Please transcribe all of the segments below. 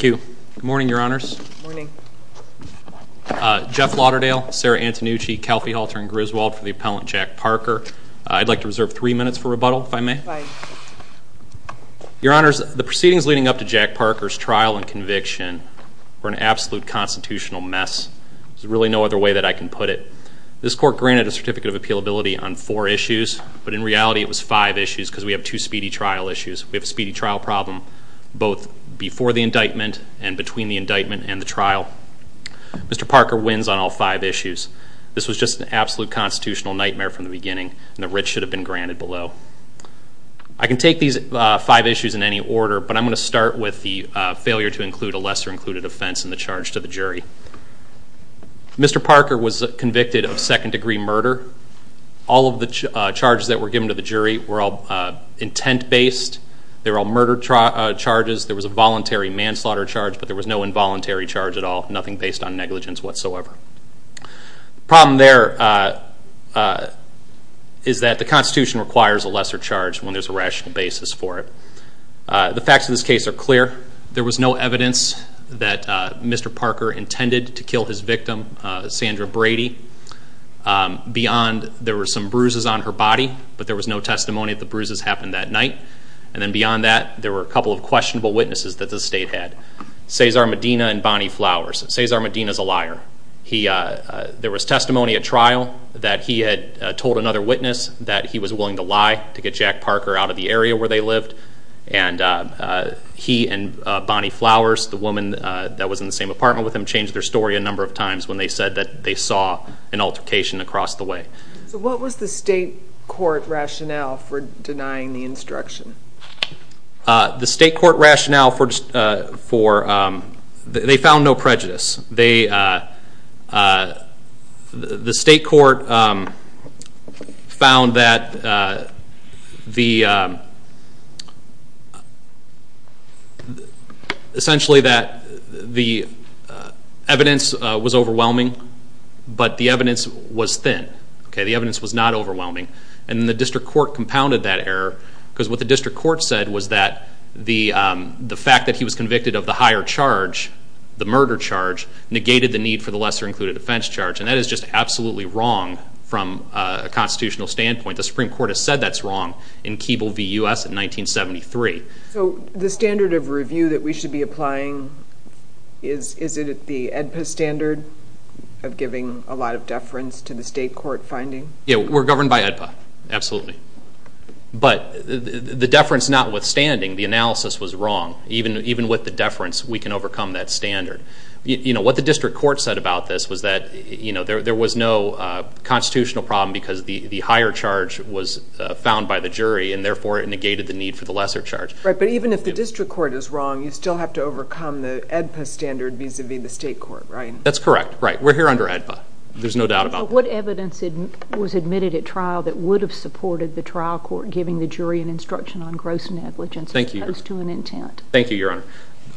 Good morning, Your Honors. Jeff Lauderdale, Sarah Antonucci, Kelphie Halter, and Griswold for the Appellant Jack Parker. I'd like to reserve three minutes for rebuttal, if I may. Your Honors, the proceedings leading up to Jack Parker's trial and conviction were an This Court granted a Certificate of Appealability on four issues, but in reality it was five issues because we have two speedy trial issues. We have a speedy trial problem, both before the indictment and between the indictment and the trial. Mr. Parker wins on all five issues. This was just an absolute constitutional nightmare from the beginning, and the writ should have been granted below. I can take these five issues in any order, but I'm going to start with the failure to include a lesser included offense in the charge to the jury. Mr. Parker was convicted of second-degree murder. All of the charges that were given to the jury were all intent-based. They were all murder charges. There was a voluntary manslaughter charge, but there was no involuntary charge at all, nothing based on negligence whatsoever. The problem there is that the Constitution requires a lesser charge when there's a rational basis for it. The facts of this case are clear. There was no evidence that Mr. Parker intended to kill his victim, Sandra Brady. Beyond there were some bruises on her body, but there was no testimony that the bruises happened that night. And then beyond that, there were a couple of questionable witnesses that the state had. Cesar Medina and Bonnie Flowers. Cesar Medina is a liar. There was testimony at trial that he had told another witness that he was willing to lie to get Jack Parker out of the area where they lived. He and Bonnie Flowers, the woman that was in the same apartment with him, changed their story a number of times when they said that they saw an altercation across the way. What was the state court rationale for denying the instruction? The state court rationale for... They found no prejudice. The state court found that the, essentially, that the evidence was overwhelming, but the evidence was thin. The evidence was not overwhelming. And the district court compounded that error, because what the district court said was that the fact that he was convicted of the higher charge, the murder charge, negated the need for the lesser-included offense charge. And that is just absolutely wrong from a constitutional standpoint. The Supreme Court has said that's wrong in Keeble v. U.S. in 1973. So the standard of review that we should be applying, is it the AEDPA standard of giving a lot of deference to the state court finding? Yeah, we're governed by AEDPA, absolutely. But the deference notwithstanding, the analysis was wrong. Even with the deference, we can overcome that standard. What the district court said about this was that there was no constitutional problem, because the higher charge was found by the jury, and therefore it negated the need for the lesser charge. Right, but even if the district court is wrong, you still have to overcome the AEDPA standard vis-a-vis the state court, right? That's correct, right. We're here under AEDPA. There's no doubt about that. What evidence was admitted at trial that would have supported the trial court giving the jury an instruction on gross negligence as opposed to an intent? Thank you, Your Honor.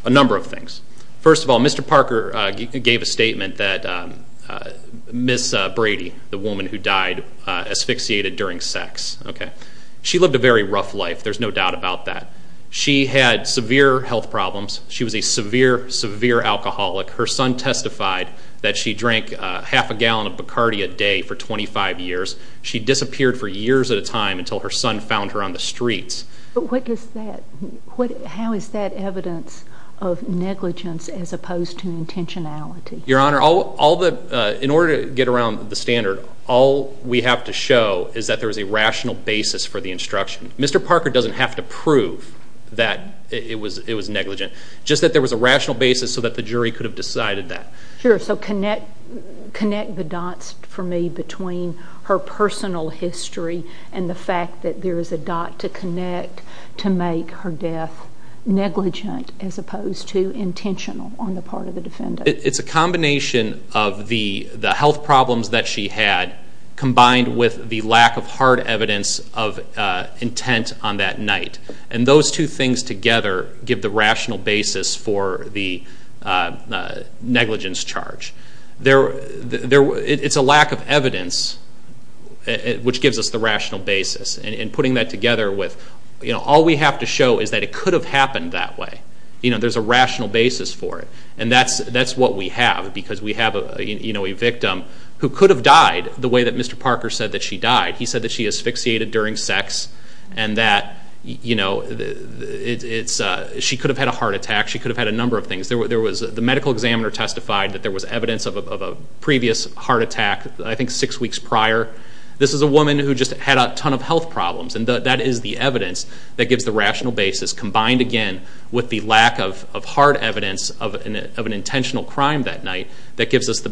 A number of things. First of all, Mr. Parker gave a statement that Ms. Brady, the woman who died, asphyxiated during sex. She lived a very rough life, there's no doubt about that. She had severe health problems. She was a severe, severe alcoholic. Her son testified that she drank half a gallon of Bacardi a day for 25 years. She disappeared for years at a time until her son found her on the streets. But what is that? How is that evidence of negligence as opposed to intentionality? Your Honor, in order to get around the standard, all we have to show is that there was a rational basis for the instruction. Mr. Parker doesn't have to prove that it was negligent. Just that there was a rational basis so that the jury could have decided that. Sure, so connect the dots for me between her personal history and the fact that there is a dot to connect to make her death negligent as opposed to intentional on the part of the defendant. It's a combination of the health problems that she had combined with the lack of hard evidence of intent on that night. Those two things together give the rational basis for the negligence charge. It's a lack of evidence which gives us the rational basis. Putting that together with all we have to show is that it could have happened that way. There's a rational basis for it. That's what we have because we have a victim who could have died the way that Mr. Parker said that she died. He said that she asphyxiated during sex and that she could have had a heart attack. She could have had a number of things. The medical examiner testified that there was evidence of a previous heart attack I think six weeks prior. This is a woman who just had a ton of health problems and that is the evidence that gives the rational basis combined again with the lack of hard evidence of an intentional crime that night. That gives us the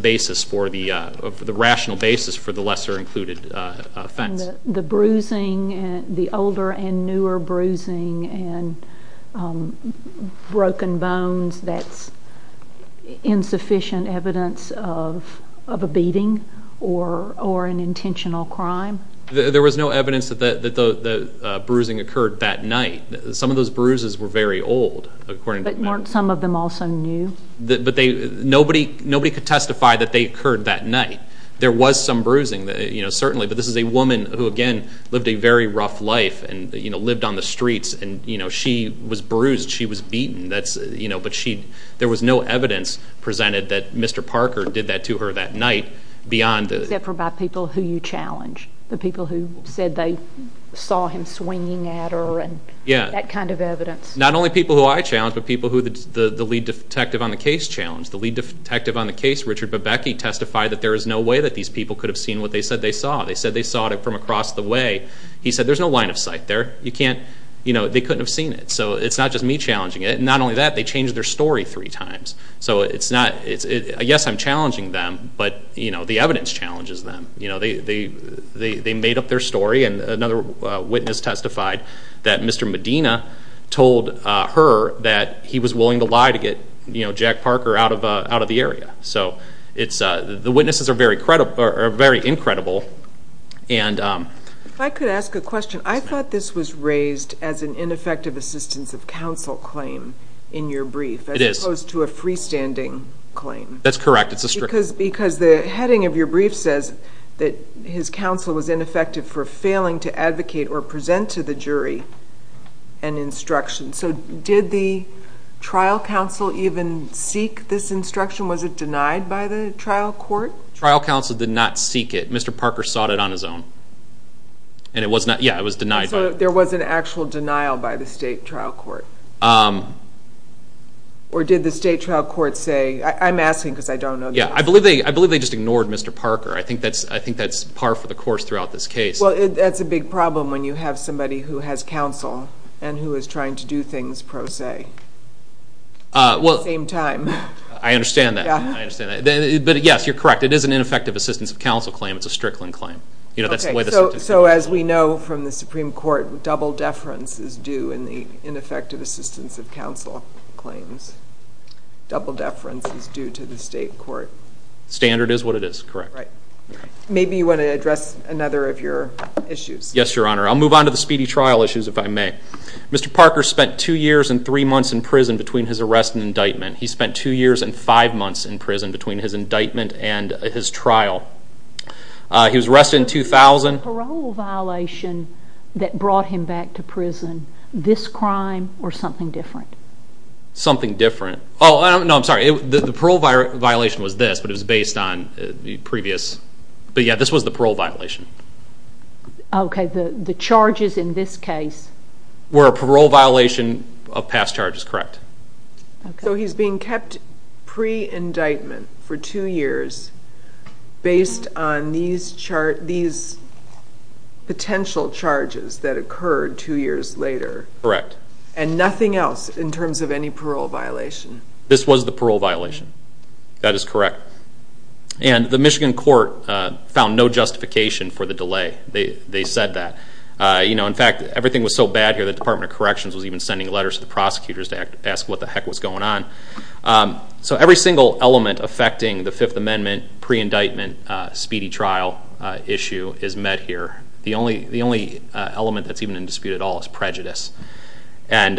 rational basis for the lesser included offense. The older and newer bruising and broken bones, that's insufficient evidence of a beating or an intentional crime? There was no evidence that the bruising occurred that night. Some of those bruises were very old. Some of them also new? Nobody could testify that they occurred that night. There was some bruising, certainly, but this is a woman who, again, lived a very rough life and lived on the streets. She was bruised. She was beaten. There was no evidence presented that Mr. Parker did that to her that night beyond the... Except for by people who you challenged, the people who said they saw him swinging at her and that kind of evidence. Not only people who I challenged, but people who the lead detective on the case challenged. The lead detective on the case, Richard Bebeke, testified that there is no way that these people could have seen what they said they saw. They said they saw it from across the way. He said, there's no line of sight there. They couldn't have seen it. So, it's not just me challenging it. Not only that, they changed their story three times. So it's not... Yes, I'm challenging them, but the evidence challenges them. They made up their story and another witness testified that Mr. Medina told her that he was willing to lie to get Jack Parker out of the area. So the witnesses are very incredible and... I could ask a question. I thought this was raised as an ineffective assistance of counsel claim in your brief as opposed to a freestanding claim. That's correct. It's a strict... Because the heading of your brief says that his counsel was ineffective for failing to advocate or present to the jury an instruction. So did the trial counsel even seek this instruction? Was it denied by the trial court? Trial counsel did not seek it. Mr. Parker sought it on his own. And it was not... Yeah, it was denied by... So there was an actual denial by the state trial court? Or did the state trial court say... I'm asking because I don't know the answer. I believe they just ignored Mr. Parker. I think that's par for the course throughout this case. Well, that's a big problem when you have somebody who has counsel and who is trying to do things pro se at the same time. I understand that. I understand that. But yes, you're correct. It is an ineffective assistance of counsel claim. It's a Strickland claim. So as we know from the Supreme Court, double deference is due in the ineffective assistance of counsel claims. Double deference is due to the state court. Standard is what it is. Correct. Right. Maybe you want to address another of your issues. Yes, Your Honor. I'll move on to the speedy trial issues if I may. Mr. Parker spent two years and three months in prison between his arrest and indictment. He spent two years and five months in prison between his indictment and his trial. He was arrested in 2000. The parole violation that brought him back to prison, this crime or something different? Something different. Oh, no. I'm sorry. The parole violation was this, but it was based on the previous, but yes, this was the parole violation. Okay. The charges in this case were a parole violation of past charges. Correct. Okay. So he's being kept pre-indictment for two years based on these potential charges that occurred two years later. Correct. And nothing else in terms of any parole violation? This was the parole violation. That is correct. And the Michigan court found no justification for the delay. They said that. You know, in fact, everything was so bad here, the Department of Corrections was even sending letters to the prosecutors to ask what the heck was going on. So every single element affecting the Fifth Amendment, pre-indictment, speedy trial issue is met here. The only element that's even in dispute at all is prejudice. And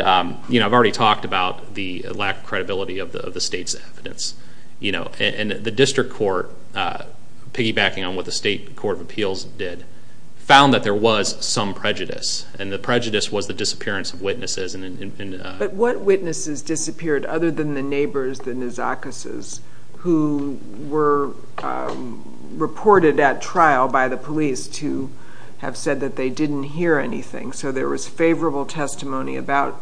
you know, I've already talked about the lack of credibility of the state's evidence. You know, and the district court, piggybacking on what the state court of appeals did, found that there was some prejudice. And the prejudice was the disappearance of witnesses. But what witnesses disappeared other than the neighbors, the Nazacases, who were reported at trial by the police to have said that they didn't hear anything. So there was favorable testimony about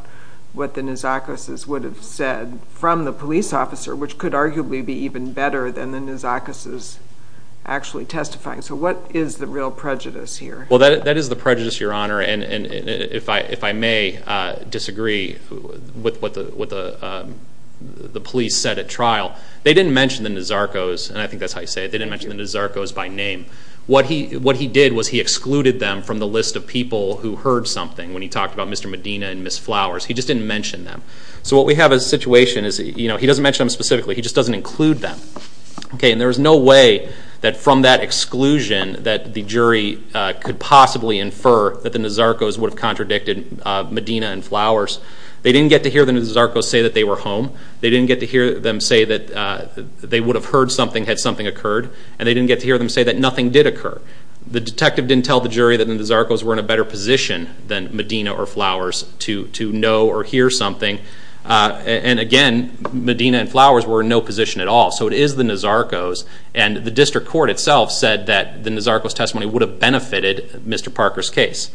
what the Nazacases would have said from the police officer, which could arguably be even better than the Nazacases actually testifying. So what is the real prejudice here? Well, that is the prejudice, Your Honor. And if I may disagree with what the police said at trial, they didn't mention the Nazarcos, and I think that's how you say it. They didn't mention the Nazarcos by name. What he did was he excluded them from the list of people who heard something when he talked about Mr. Medina and Ms. Flowers. He just didn't mention them. So what we have as a situation is, you know, he doesn't mention them specifically. He just doesn't include them. Okay, and there was no way that from that exclusion that the jury could possibly infer that the Nazarcos would have contradicted Medina and Flowers. They didn't get to hear the Nazarcos say that they were home. They didn't get to hear them say that they would have heard something had something occurred. And they didn't get to hear them say that nothing did occur. The detective didn't tell the jury that the Nazarcos were in a better position than Medina or Flowers to know or hear something. And again, Medina and Flowers were in no position at all. So it is the Nazarcos, and the district court itself said that the Nazarcos testimony would have benefited Mr. Parker's case.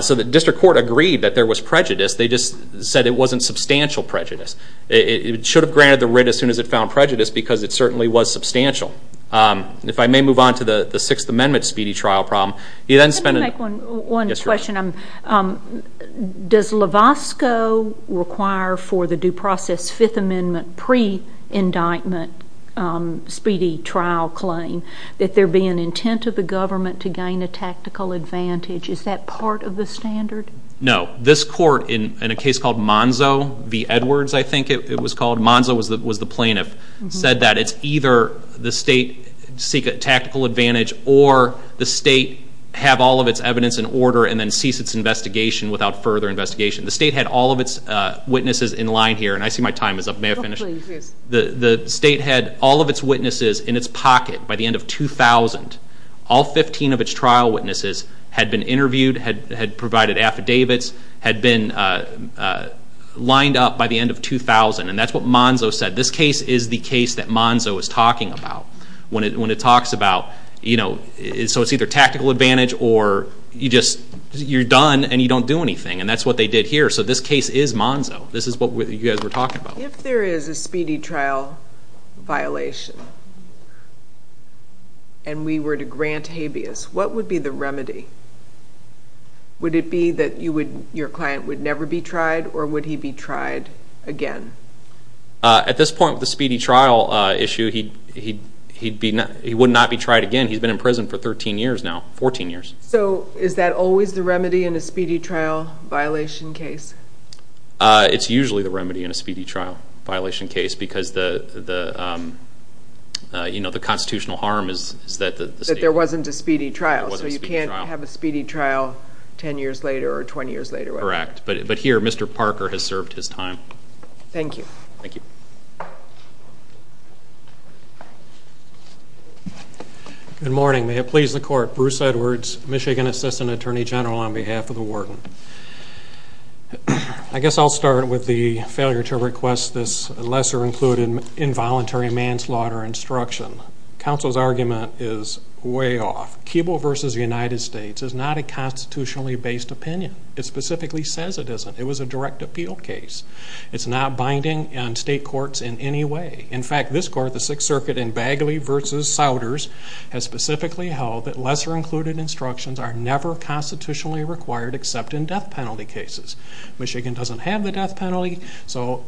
So the district court agreed that there was prejudice. They just said it wasn't substantial prejudice. It should have granted the writ as soon as it found prejudice, because it certainly was substantial. If I may move on to the Sixth Amendment speedy trial problem, he then spent a Let me make one question. Does LAVOSCO require for the due process Fifth Amendment pre-indictment speedy trial claim that there be an intent of the government to gain a tactical advantage? Is that part of the standard? No. This court, in a case called Monzo v. Edwards, I think it was called, Monzo was the plaintiff, said that it's either the state seek a tactical advantage or the state have all of its evidence in order and then cease its investigation without further investigation. The state had all of its witnesses in line here, and I see my time is up. May I finish? Please. The state had all of its witnesses in its pocket by the end of 2000. All 15 of its trial witnesses had been interviewed, had provided affidavits, had been lined up by the end of 2000, and that's what Monzo said. This case is the case that Monzo is talking about. When it talks about, you know, so it's either tactical advantage or you just, you're done and you don't do anything, and that's what they did here. So this case is Monzo. This is what you guys were talking about. If there is a speedy trial violation and we were to grant habeas, what would be the remedy? Would it be that you would, your client would never be tried or would he be tried again? At this point with the speedy trial issue, he would not be tried again. He's been in prison for 13 years now, 14 years. So is that always the remedy in a speedy trial violation case? It's usually the remedy in a speedy trial violation case because the, you know, the constitutional harm is that the state... That there wasn't a speedy trial. So you can't have a speedy trial 10 years later or 20 years later. Correct. But here, Mr. Parker has served his time. Thank you. Thank you. Good morning. May it please the court. Bruce Edwards, Michigan Assistant Attorney General on behalf of the warden. I guess I'll start with the failure to request this lesser included involuntary manslaughter instruction. Counsel's argument is way off. Keeble versus the United States is not a constitutionally based opinion. It specifically says it isn't. It was a direct appeal case. It's not binding on state courts in any way. In fact, this court, the Sixth Circuit in Bagley versus Souders has specifically held that lesser included instructions are never constitutionally required except in death penalty cases. Michigan doesn't have the death penalty, so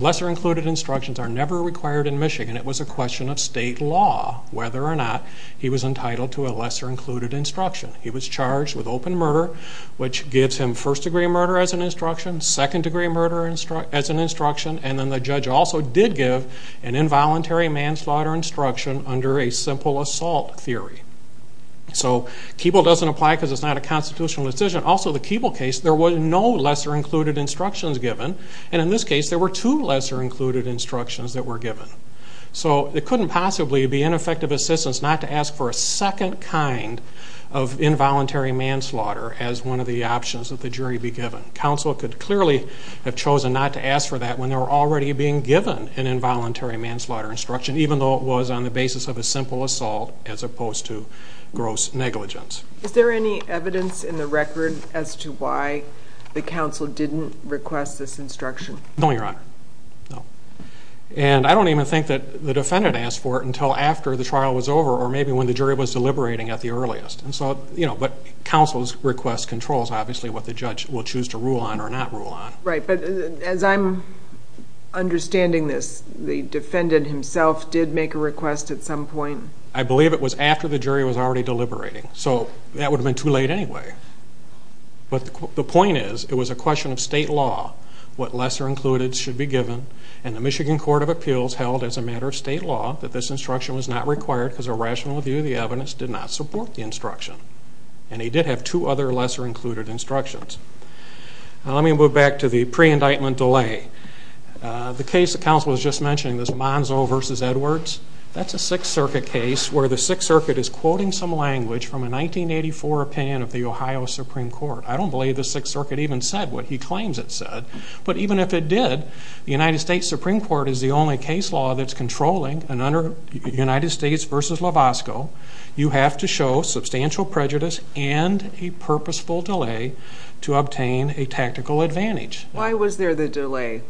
lesser included instructions are never required in Michigan. It was a question of state law whether or not he was entitled to a lesser included instruction. He was charged with open murder, which gives him first degree murder as an instruction, second degree murder as an instruction, and then the judge also did give an involuntary manslaughter instruction under a simple assault theory. So Keeble doesn't apply because it's not a constitutional decision. Also, the Keeble case, there was no lesser included instructions given, and in this case there were two lesser included instructions that were given. So it couldn't possibly be ineffective assistance not to ask for a second kind of involuntary manslaughter as one of the options that the jury be given. Counsel could clearly have chosen not to ask for that when they were already being given an involuntary manslaughter instruction, even though it was on the basis of a simple assault as opposed to gross negligence. Is there any evidence in the record as to why the counsel didn't request this instruction? No, Your Honor. No. And I don't even think that the defendant asked for it until after the trial was over or maybe when the jury was deliberating at the earliest. And so, you know, but counsel's request controls obviously what the judge will choose to rule on or not rule on. Right, but as I'm understanding this, the defendant himself did make a request at some point? I believe it was after the jury was already deliberating, so that would have been too late anyway. But the point is, it was a question of state law, what lesser included should be given, and the Michigan Court of Appeals held as a matter of state law that this instruction was not required because a rational view of the evidence did not support the instruction. And he did have two other lesser included instructions. Now let me move back to the pre-indictment delay. The case the counsel was just mentioning, this Monzo v. Edwards, that's a Sixth Circuit case where the Sixth Circuit is quoting some language from a 1984 opinion of the Ohio Supreme Court. I don't believe the Sixth Circuit even said what he claims it said, but even if it did, the United States Supreme Court is the only case law that's controlling, and under United States v. Lavosko, you have to show substantial prejudice and a purposeful delay to obtain a tactical advantage. Why was there the delay?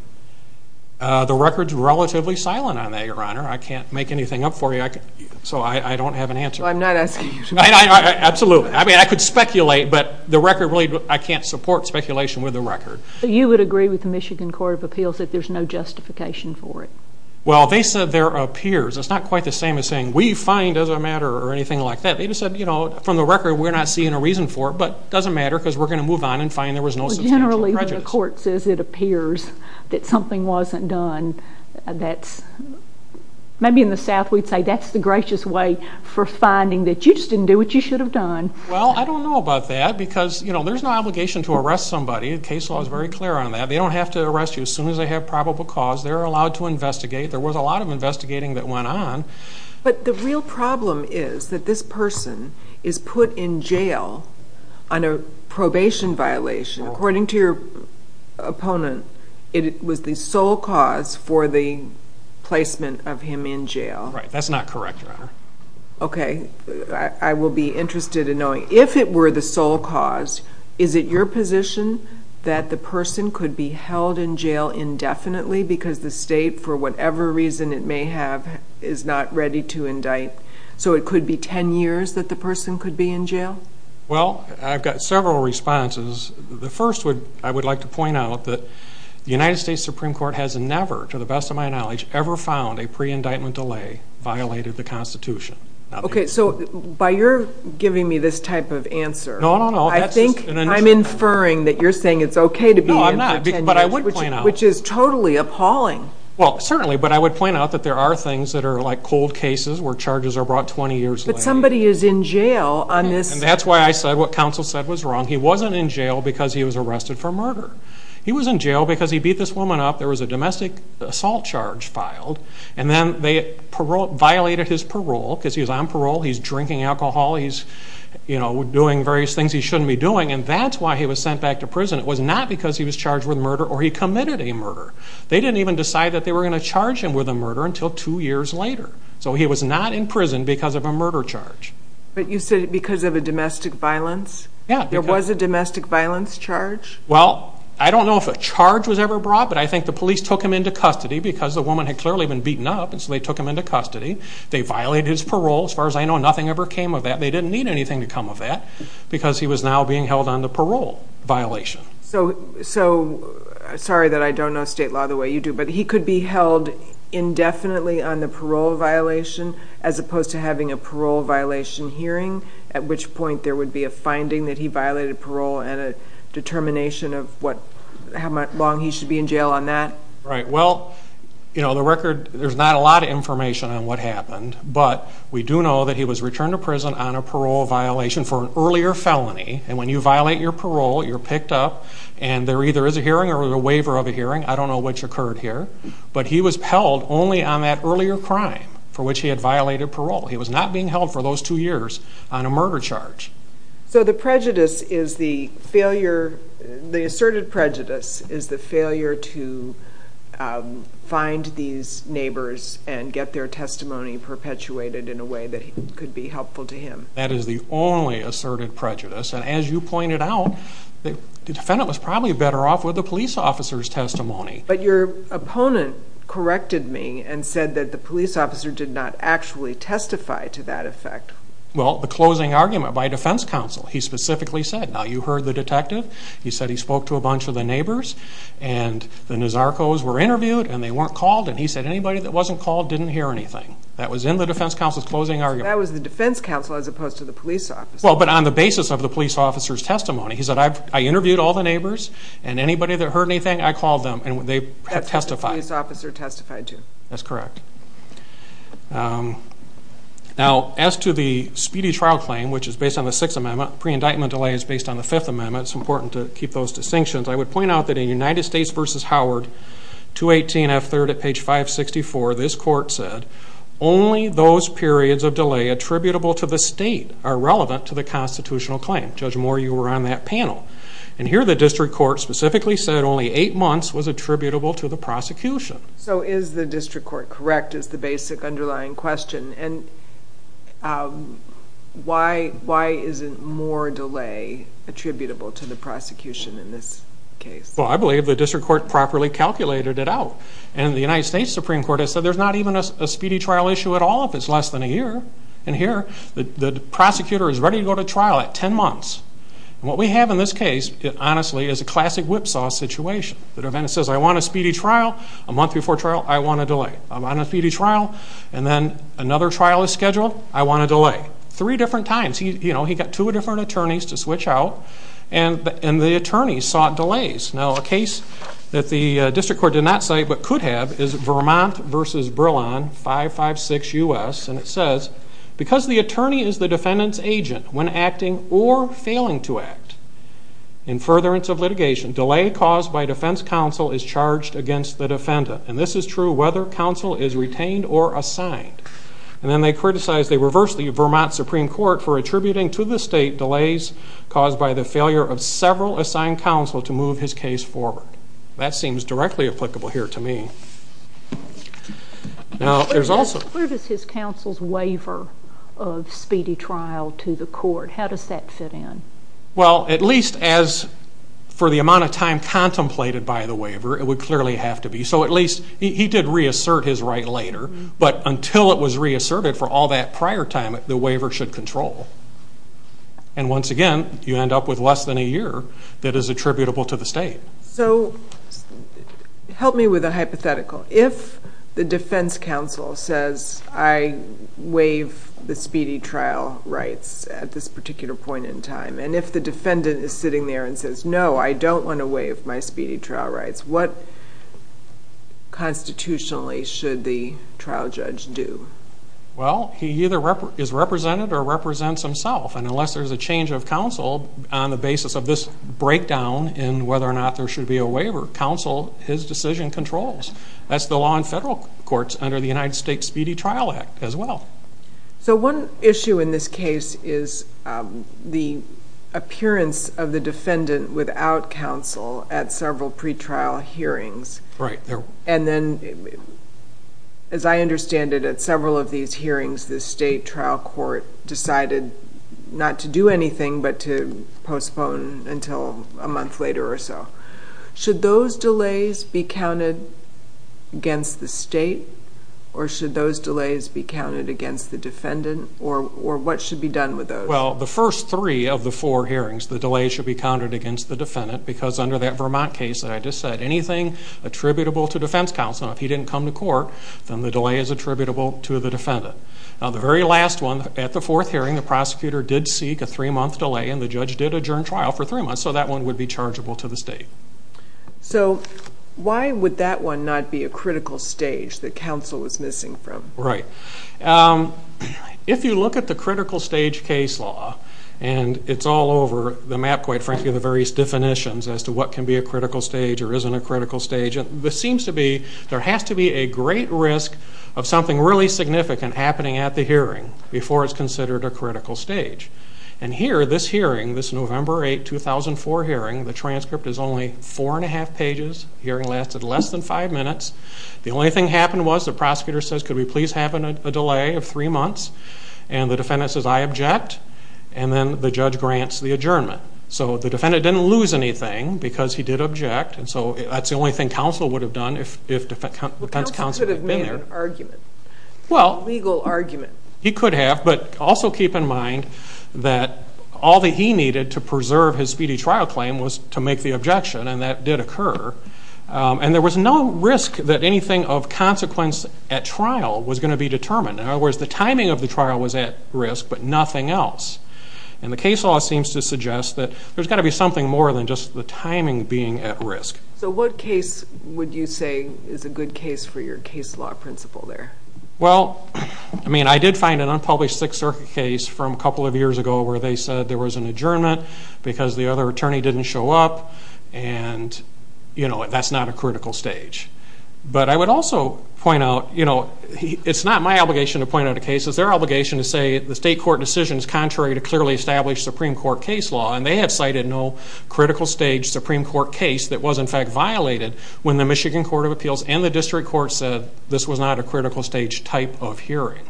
The record's relatively silent on that, Your Honor. I can't make anything up for you, so I don't have an answer. Well, I'm not asking you to make it up. Absolutely. I mean, I could speculate, but the record really, I can't support speculation with the record. You would agree with the Michigan Court of Appeals that there's no justification for it? Well, they said there appears. It's not quite the same as saying, we find it doesn't matter or anything like that. They just said, you know, from the record, we're not seeing a reason for it, but it doesn't matter because we're going to move on and find there was no substantial prejudice. Generally, when the court says it appears that something wasn't done, that's, maybe in the South we'd say that's the gracious way for finding that you just didn't do what you should have done. Well, I don't know about that because, you know, there's no obligation to arrest somebody. The case law is very clear on that. They don't have to arrest you as soon as they have probable cause. They're allowed to investigate. There was a lot of investigating that went on. But the real problem is that this person is put in jail on a probation violation. According to your opponent, it was the sole cause for the placement of him in jail. Right. That's not correct, Your Honor. Okay. I will be interested in knowing, if it were the sole cause, is it your position that the person could be held in jail indefinitely because the state, for whatever reason it may have, is not ready to indict? So it could be 10 years that the person could be in jail? Well, I've got several responses. The first I would like to point out that the United States Supreme Court has never, to the best of my knowledge, ever found a pre-indictment delay violated the Constitution. Okay. So by your giving me this type of answer, I think I'm inferring that you're saying it's okay to be in for 10 years, which is totally appalling. Well, certainly. But I would point out that there are things that are like cold cases where charges are brought 20 years later. But somebody is in jail on this. And that's why I said what counsel said was wrong. He wasn't in jail because he was arrested for murder. He was in jail because he beat this woman up. There was a domestic assault charge filed. And then they violated his parole because he was on parole. He's drinking alcohol. He's, you know, doing various things he shouldn't be doing. And that's why he was sent back to prison. It was not because he was charged with murder or he committed a murder. They didn't even decide that they were going to charge him with a murder until two years later. So he was not in prison because of a murder charge. But you said because of a domestic violence? Yeah. There was a domestic violence charge? Well, I don't know if a charge was ever brought. But I think the police took him into custody because the woman had clearly been beaten up. And so they took him into custody. They violated his parole. As far as I know, nothing ever came of that. They didn't need anything to come of that because he was now being held on the parole violation. So sorry that I don't know state law the way you do. But he could be held indefinitely on the parole violation as opposed to having a parole violation hearing, at which point there would be a finding that he violated parole and a determination of what, how long he should be in jail on that? Right. Well, you know, the record, there's not a lot of information on what happened. But we do know that he was returned to prison on a parole violation for an earlier felony. And when you violate your parole, you're picked up and there either is a hearing or a waiver of a hearing, I don't know which occurred here. But he was held only on that earlier crime for which he had violated parole. He was not being held for those two years on a murder charge. So the prejudice is the failure, the asserted prejudice is the failure to find these neighbors and get their testimony perpetuated in a way that could be helpful to him. That is the only asserted prejudice. And as you pointed out, the defendant was probably better off with the police officer's testimony. But your opponent corrected me and said that the police officer did not actually testify to that effect. Well, the closing argument by defense counsel, he specifically said, now you heard the detective, he said he spoke to a bunch of the neighbors and the Nazarcos were interviewed and they weren't called. And he said anybody that wasn't called didn't hear anything. That was in the defense counsel's closing argument. That was the defense counsel as opposed to the police officer. Well, but on the basis of the police officer's testimony. He said, I interviewed all the neighbors and anybody that heard anything, I called them and they testified. That's what the police officer testified to. That's correct. Now, as to the speedy trial claim, which is based on the Sixth Amendment, pre-indictment delay is based on the Fifth Amendment. It's important to keep those distinctions. I would point out that in United States v. Howard, 218F3 at page 564, this court said only those periods of delay attributable to the state are relevant to the constitutional claim. Judge Moore, you were on that panel. And here the district court specifically said only eight months was attributable to the prosecution. So is the district court correct is the basic underlying question? And why isn't more delay attributable to the prosecution in this case? Well, I believe the district court properly calculated it out. And the United States Supreme Court has said there's not even a speedy trial issue at all if it's less than a year. And here the prosecutor is ready to go to trial at 10 months. And what we have in this case, honestly, is a classic whipsaw situation. The defendant says, I want a speedy trial. A month before trial, I want a delay. I want a speedy trial. And then another trial is scheduled. I want a delay. Three different times. He got two different attorneys to switch out. And the attorneys sought delays. Now, a case that the district court did not say but could have is Vermont v. Brillon, 556 US. And it says, because the attorney is the defendant's agent when acting or failing to act in furtherance of litigation, delay caused by defense counsel is charged against the defendant. And this is true whether counsel is retained or assigned. And then they criticize, they reverse the Vermont Supreme Court for attributing to the state delays caused by the failure of several assigned counsel to move his case forward. That seems directly applicable here to me. Now, there's also... Where does his counsel's waiver of speedy trial to the court, how does that fit in? Well, at least as for the amount of time contemplated by the waiver, it would clearly have to be. So, at least, he did reassert his right later. But until it was reasserted for all that prior time, the waiver should control. And once again, you end up with less than a year that is attributable to the state. So, help me with a hypothetical. If the defense counsel says, I waive the speedy trial rights at this particular point in time, and if the defendant is sitting there and says, no, I don't want to waive my speedy trial rights, what constitutionally should the trial judge do? Well, he either is represented or represents himself. And unless there's a change of counsel on the basis of this breakdown in whether or not there should be a waiver, counsel, his decision controls. That's the law in federal courts under the United States Speedy Trial Act, as well. So, one issue in this case is the appearance of the defendant without counsel at several pretrial hearings. Right. And then, as I understand it, at several of these hearings, the state trial court decided not to do anything but to postpone until a month later or so. Should those delays be counted against the state or should those delays be counted against the defendant or what should be done with those? Well, the first three of the four hearings, the delay should be counted against the defendant because under that Vermont case that I just said, anything attributable to defense counsel, if he didn't come to court, then the delay is attributable to the defendant. Now, the very last one, at the fourth hearing, the prosecutor did seek a three-month delay and the judge did adjourn trial for three months. So, that one would be chargeable to the state. So, why would that one not be a critical stage that counsel was missing from? Right. If you look at the critical stage case law and it's all over the map, quite frankly, the various definitions as to what can be a critical stage or isn't a critical stage, this seems to be, there has to be a great risk of something really significant happening at the hearing before it's considered a critical stage. And here, this hearing, this November 8, 2004 hearing, the transcript is only four and a half pages, hearing lasted less than five minutes. The only thing that happened was the prosecutor says, could we please have a delay of three months? And the defendant says, I object. And then the judge grants the adjournment. So, the defendant didn't lose anything because he did object. And so, that's the only thing counsel would have done if defense counsel had been there. Well, counsel could have made an argument, a legal argument. He could have, but also keep in mind that all that he needed to preserve his speedy trial claim was to make the objection and that did occur. And there was no risk that anything of consequence at trial was going to be determined. In other words, the timing of the trial was at risk, but nothing else. And the case law seems to suggest that there's got to be something more than just the timing being at risk. So, what case would you say is a good case for your case law principle there? Well, I mean, I did find an unpublished Sixth Circuit case from a couple of years ago where they said there was an adjournment because the other attorney didn't show up. And, you know, that's not a critical stage. But I would also point out, you know, it's not my obligation to point out a case. It's their obligation to say the state court decision is contrary to clearly established Supreme Court case law. And they have cited no critical stage Supreme Court case that was, in fact, violated when the Michigan Court of Appeals and the district court said this was not a critical stage type of hearing.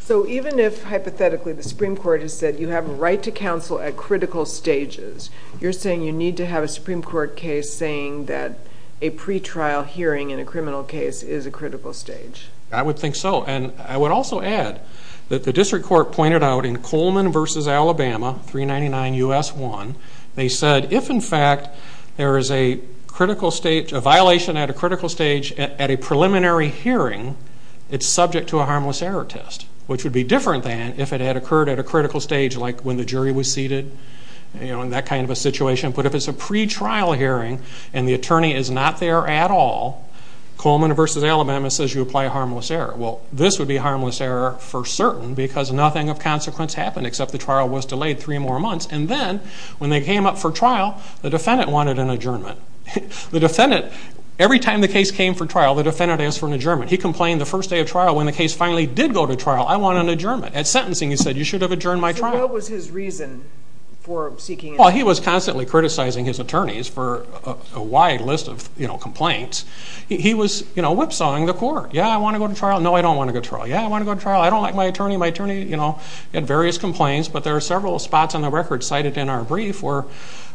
So, even if, hypothetically, the Supreme Court has said you have a right to counsel at critical stages, you're saying you need to have a Supreme Court case saying that a pretrial hearing in a criminal case is a critical stage? I would think so. And I would also add that the district court pointed out in Coleman versus Alabama, 399 U.S. 1, they said if, in fact, there is a violation at a critical stage at a preliminary hearing, it's subject to a harmless error test, which would be different than if it had occurred at a critical stage like when the jury was seated, you know, in that kind of a situation. But if it's a pretrial hearing and the attorney is not there at all, Coleman versus Alabama says you apply a harmless error. Well, this would be a harmless error for certain because nothing of consequence happened except the trial was delayed three more months. And then, when they came up for trial, the defendant wanted an adjournment. The defendant, every time the case came for trial, the defendant asked for an adjournment. He complained the first day of trial when the case finally did go to trial, I want an adjournment. At sentencing, he said, you should have adjourned my trial. So, what was his reason for seeking an adjournment? Well, he was constantly criticizing his attorneys for a wide list of, you know, complaints. He was, you know, whipsawing the court. Yeah, I want to go to trial. No, I don't want to go to trial. Yeah, I want to go to trial. I don't like my attorney. My attorney, you know, had various complaints. But there are several spots on the record cited in our brief where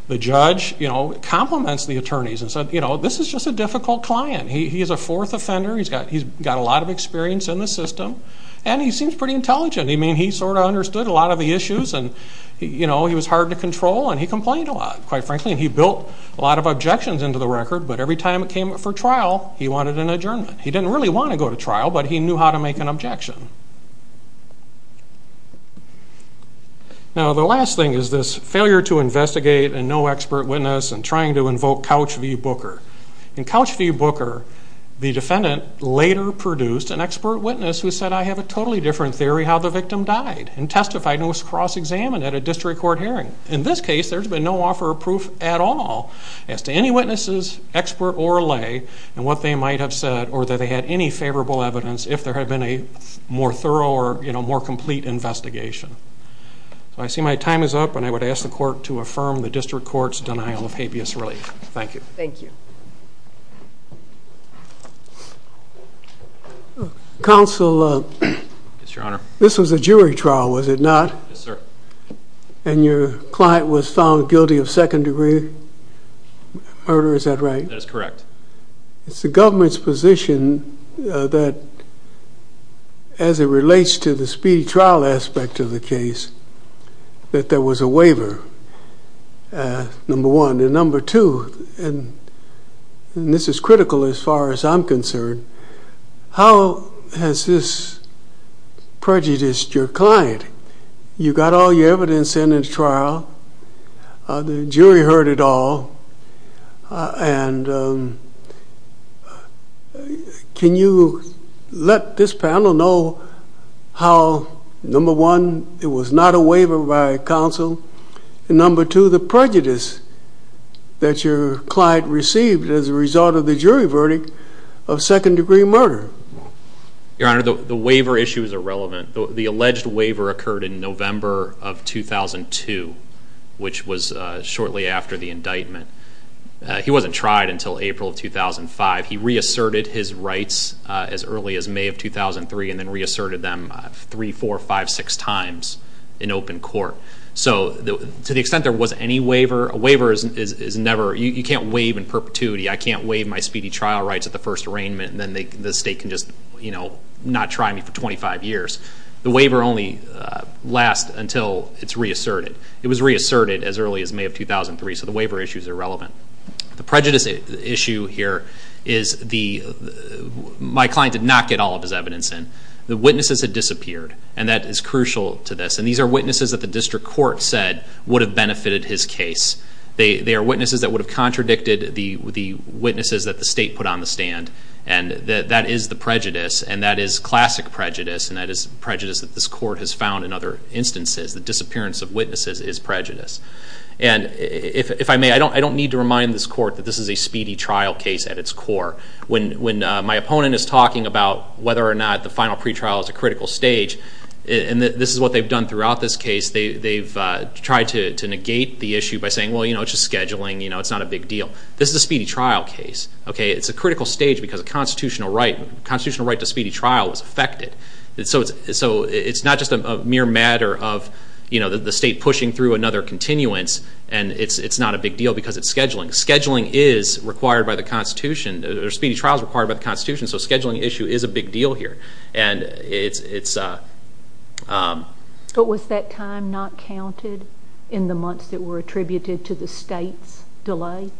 the judge, you know, compliments the attorneys and said, you know, this is just a difficult client. He is a fourth offender. He's got a lot of experience in the system. And he seems pretty intelligent. I mean, he sort of understood a lot of the issues. And, you know, he was hard to control. And he complained a lot, quite frankly. And he built a lot of objections into the record. But every time it came up for trial, he wanted an adjournment. He didn't really want to go to trial, but he knew how to make an objection. Now, the last thing is this failure to investigate and no expert witness and trying to invoke Couch v. Booker. In Couch v. Booker, the defendant later produced an expert witness who said, I have a totally different theory how the victim died and testified and was cross-examined at a district court hearing. In this case, there's been no offer of proof at all as to any witnesses, expert or lay, and what they might have said or that they had any favorable evidence if there had been a more thorough or, you know, more complete investigation. So I see my time is up. And I would ask the court to affirm the district court's denial of habeas relief. Thank you. Thank you. Counsel. Yes, Your Honor. This was a jury trial, was it not? Yes, sir. And your client was found guilty of second degree murder, is that right? That is correct. It's the government's position that as it relates to the speedy trial aspect of the case, that there was a waiver, number one. And number two, and this is critical as far as I'm concerned, how has this prejudiced your client? You got all your evidence in the trial, the jury heard it all, and can you let this panel know how number one, it was not a waiver by counsel, and number two, the prejudice that your client received as a result of the jury verdict of second degree murder? Your Honor, the waiver issue is irrelevant. The alleged waiver occurred in November of 2002, which was shortly after the indictment. He wasn't tried until April of 2005. He reasserted his rights as early as May of 2003, and then reasserted them three, four, five, six times in open court. So to the extent there was any waiver, a waiver is never, you can't waive in perpetuity. I can't waive my speedy trial rights at the first arraignment, and then the state can just not try me for 25 years. The waiver only lasts until it's reasserted. It was reasserted as early as May of 2003, so the waiver issue is irrelevant. The prejudice issue here is the, my client did not get all of his evidence in. The witnesses had disappeared, and that is crucial to this, and these are witnesses that the district court said would have benefited his case. They are witnesses that would have contradicted the witnesses that the state put on the stand, and that is the prejudice, and that is classic prejudice, and that is prejudice that this court has found in other instances. The disappearance of witnesses is prejudice. And if I may, I don't need to remind this court that this is a speedy trial case at its core. When my opponent is talking about whether or not the final pretrial is a critical stage, and this is what they've done throughout this case, they've tried to negate the issue by saying, well, you know, it's just scheduling, you know, it's not a big deal. This is a speedy trial case, okay? It's a critical stage because a constitutional right, constitutional right to speedy trial was affected. So it's not just a mere matter of, you know, the state pushing through another continuance, and it's not a big deal because it's scheduling. Scheduling is required by the Constitution, or speedy trial is required by the Constitution, so a scheduling issue is a big deal here. And it's... But was that time not counted in the months that were attributed to the state's delay?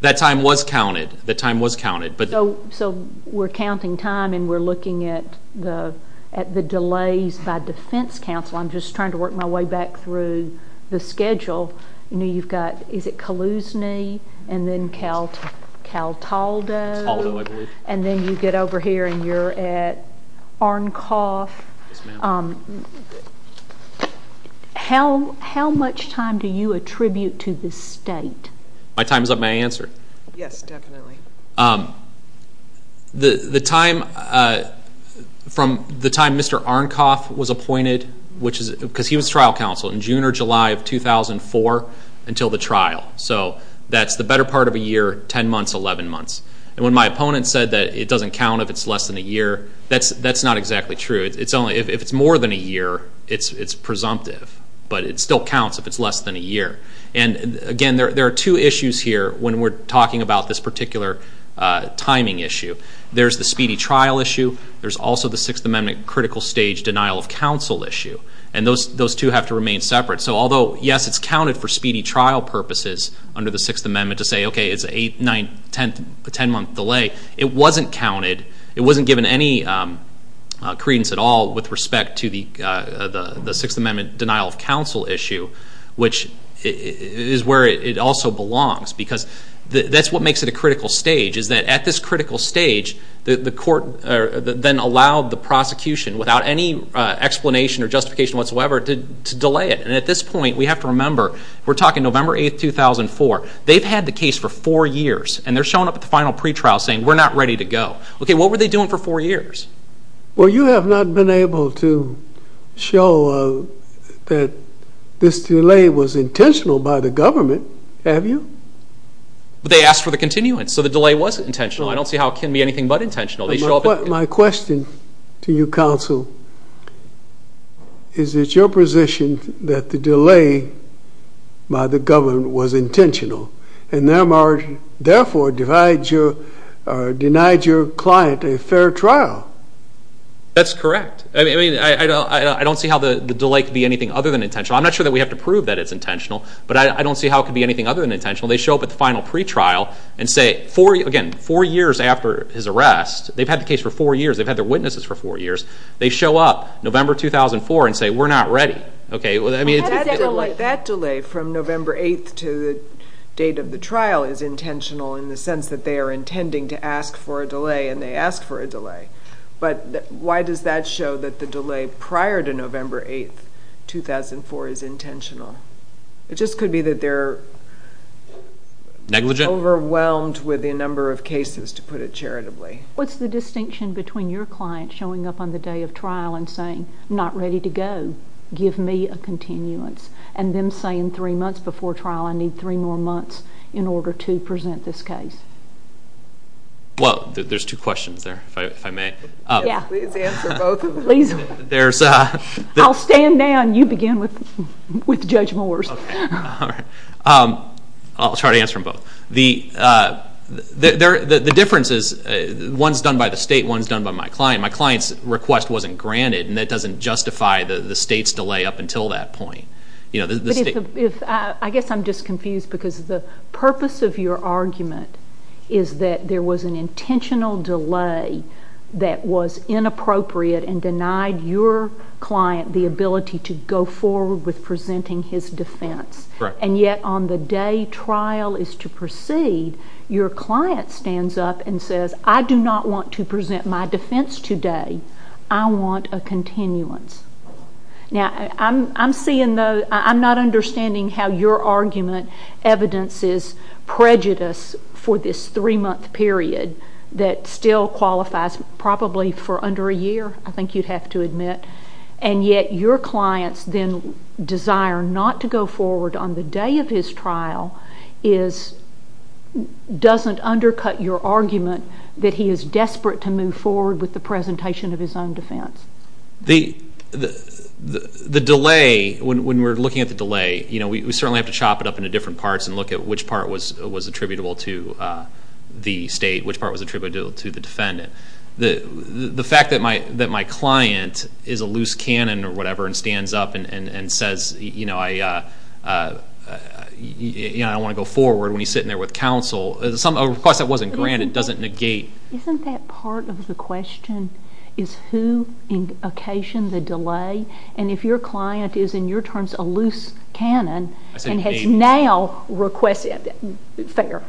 That time was counted, that time was counted, but... So we're counting time, and we're looking at the delays by defense counsel. I'm just trying to work my way back through the schedule. You know, you've got, is it Calusne, and then Caltaldo? Caltaldo, I believe. And then you get over here, and you're at Arncoff. Yes, ma'am. How much time do you attribute to the state? My time is up. May I answer? Yes, definitely. The time from the time Mr. Arncoff was appointed, which is, because he was trial counsel, in June or July of 2004 until the trial. So that's the better part of a year, 10 months, 11 months. And when my opponent said that it doesn't count if it's less than a year, that's not exactly true. It's only, if it's more than a year, it's presumptive, but it still counts if it's less than a year. And again, there are two issues here when we're talking about this particular timing issue. There's the speedy trial issue. There's also the Sixth Amendment critical stage denial of counsel issue. And those two have to remain separate. So although, yes, it's counted for speedy trial purposes under the Sixth Amendment to say, okay, it's a 10-month delay, it wasn't counted. It wasn't given any credence at all with respect to the Sixth Amendment denial of counsel issue, which is where it also belongs, because that's what makes it a critical stage, is that at this critical stage, the court then allowed the prosecution, without any explanation or justification whatsoever, to delay it. And at this point, we have to remember, we're talking November 8, 2004. They've had the case for four years, and they're showing up at the final pretrial saying, we're not ready to go. Okay, what were they doing for four years? Well, you have not been able to show that this delay was intentional by the government, have you? But they asked for the continuance, so the delay was intentional. I don't see how it can be anything but intentional. My question to you, counsel, is it your position that the delay by the government was intentional, and therefore denied your client a fair trial? That's correct. I mean, I don't see how the delay could be anything other than intentional. I'm not sure that we have to prove that it's intentional, but I don't see how it could be anything other than intentional. They show up at the final pretrial and say, again, four years after his arrest, they've had the case for four years, they've had their witnesses for four years, they show up November 2004 and say, we're not ready. Okay, well, I mean, it's... That delay from November 8th to the date of the trial is intentional in the sense that they are intending to ask for a delay, and they ask for a delay. But why does that show that the delay prior to November 8th, 2004, is intentional? It just could be that they're... Negligent? ...overwhelmed with the number of cases, to put it charitably. What's the distinction between your client showing up on the day of trial and saying, not ready to go, give me a continuance, and them saying three months before trial, I need three more months in order to present this case? Well, there's two questions there, if I may. Yeah. Please answer both of them. Please. There's... I'll stand down, you begin with Judge Moore's. Okay, all right. I'll try to answer them both. The difference is, one's done by the state, one's done by my client. My client's request wasn't granted, and that doesn't justify the state's delay up until that point. You know, the state... But if... I guess I'm just confused, because the purpose of your argument is that there was an intentional delay that was inappropriate and denied your client the ability to go forward with presenting his defense. Correct. And yet, on the day trial is to proceed, your client stands up and says, I do not want to present my defense today, I want a continuance. Now, I'm seeing the... I'm not understanding how your argument evidences prejudice for this three-month period that still qualifies probably for under a year, I think you'd have to admit. And yet, your client's then desire not to go forward on the day of his trial is... That he is desperate to move forward with the presentation of his own defense. The delay, when we're looking at the delay, you know, we certainly have to chop it up into different parts and look at which part was attributable to the state, which part was attributable to the defendant. The fact that my client is a loose cannon or whatever and stands up and says, you know, I don't want to go forward when he's sitting there with counsel, a request that wasn't granted doesn't negate... Isn't that part of the question, is who occasioned the delay? And if your client is, in your terms, a loose cannon and has now requested, fair,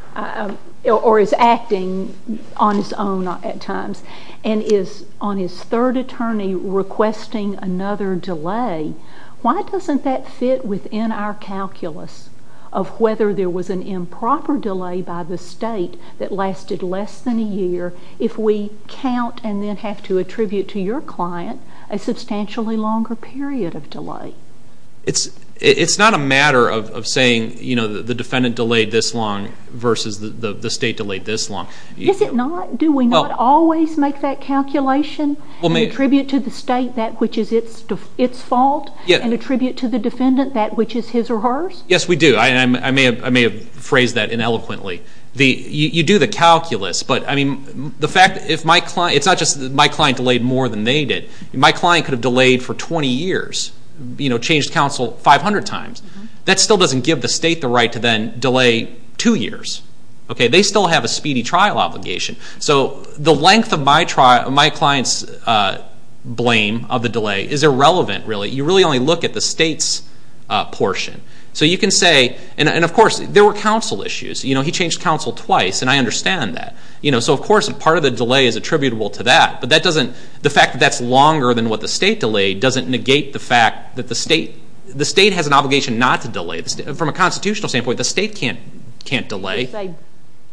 or is acting on his own at times, and is on his third attorney requesting another delay, why doesn't that fit within our calculus of whether there was an improper delay by the state that lasted less than a year if we count and then have to attribute to your client a substantially longer period of delay? It's not a matter of saying, you know, the defendant delayed this long versus the state delayed this long. Is it not? Do we not always make that calculation and attribute to the state that which is its fault and attribute to the defendant that which is his or hers? Yes, we do. I may have phrased that ineloquently. You do the calculus, but, I mean, the fact, if my client, it's not just my client delayed more than they did. My client could have delayed for 20 years, you know, changed counsel 500 times. That still doesn't give the state the right to then delay two years, okay? They still have a speedy trial obligation. So the length of my client's blame of the delay is irrelevant, really. You really only look at the state's portion. So you can say, and, of course, there were counsel issues. You know, he changed counsel twice, and I understand that. You know, so, of course, part of the delay is attributable to that, but that doesn't, the fact that that's longer than what the state delayed doesn't negate the fact that the state has an obligation not to delay. From a constitutional standpoint, the state can't delay. You can't say,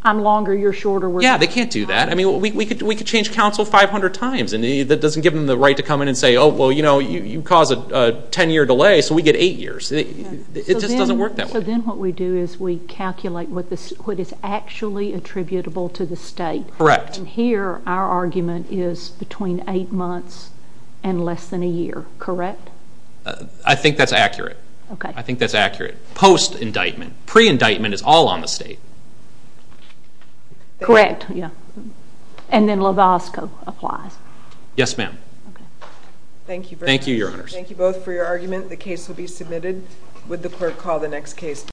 I'm longer, you're shorter. Yeah, they can't do that. I mean, we could change counsel 500 times, and that doesn't give them the right to come in and say, oh, well, you know, you caused a 10-year delay, so we get eight years. It just doesn't work that way. So then what we do is we calculate what is actually attributable to the state. Correct. And here, our argument is between eight months and less than a year, correct? I think that's accurate. Okay. I think that's accurate. Post-indictment. Pre-indictment is all on the state. Correct, yeah. And then LAVASCO applies. Yes, ma'am. Thank you very much. Thank you, Your Honors. Thank you both for your argument. The case will be submitted. Would the clerk call the next case, please?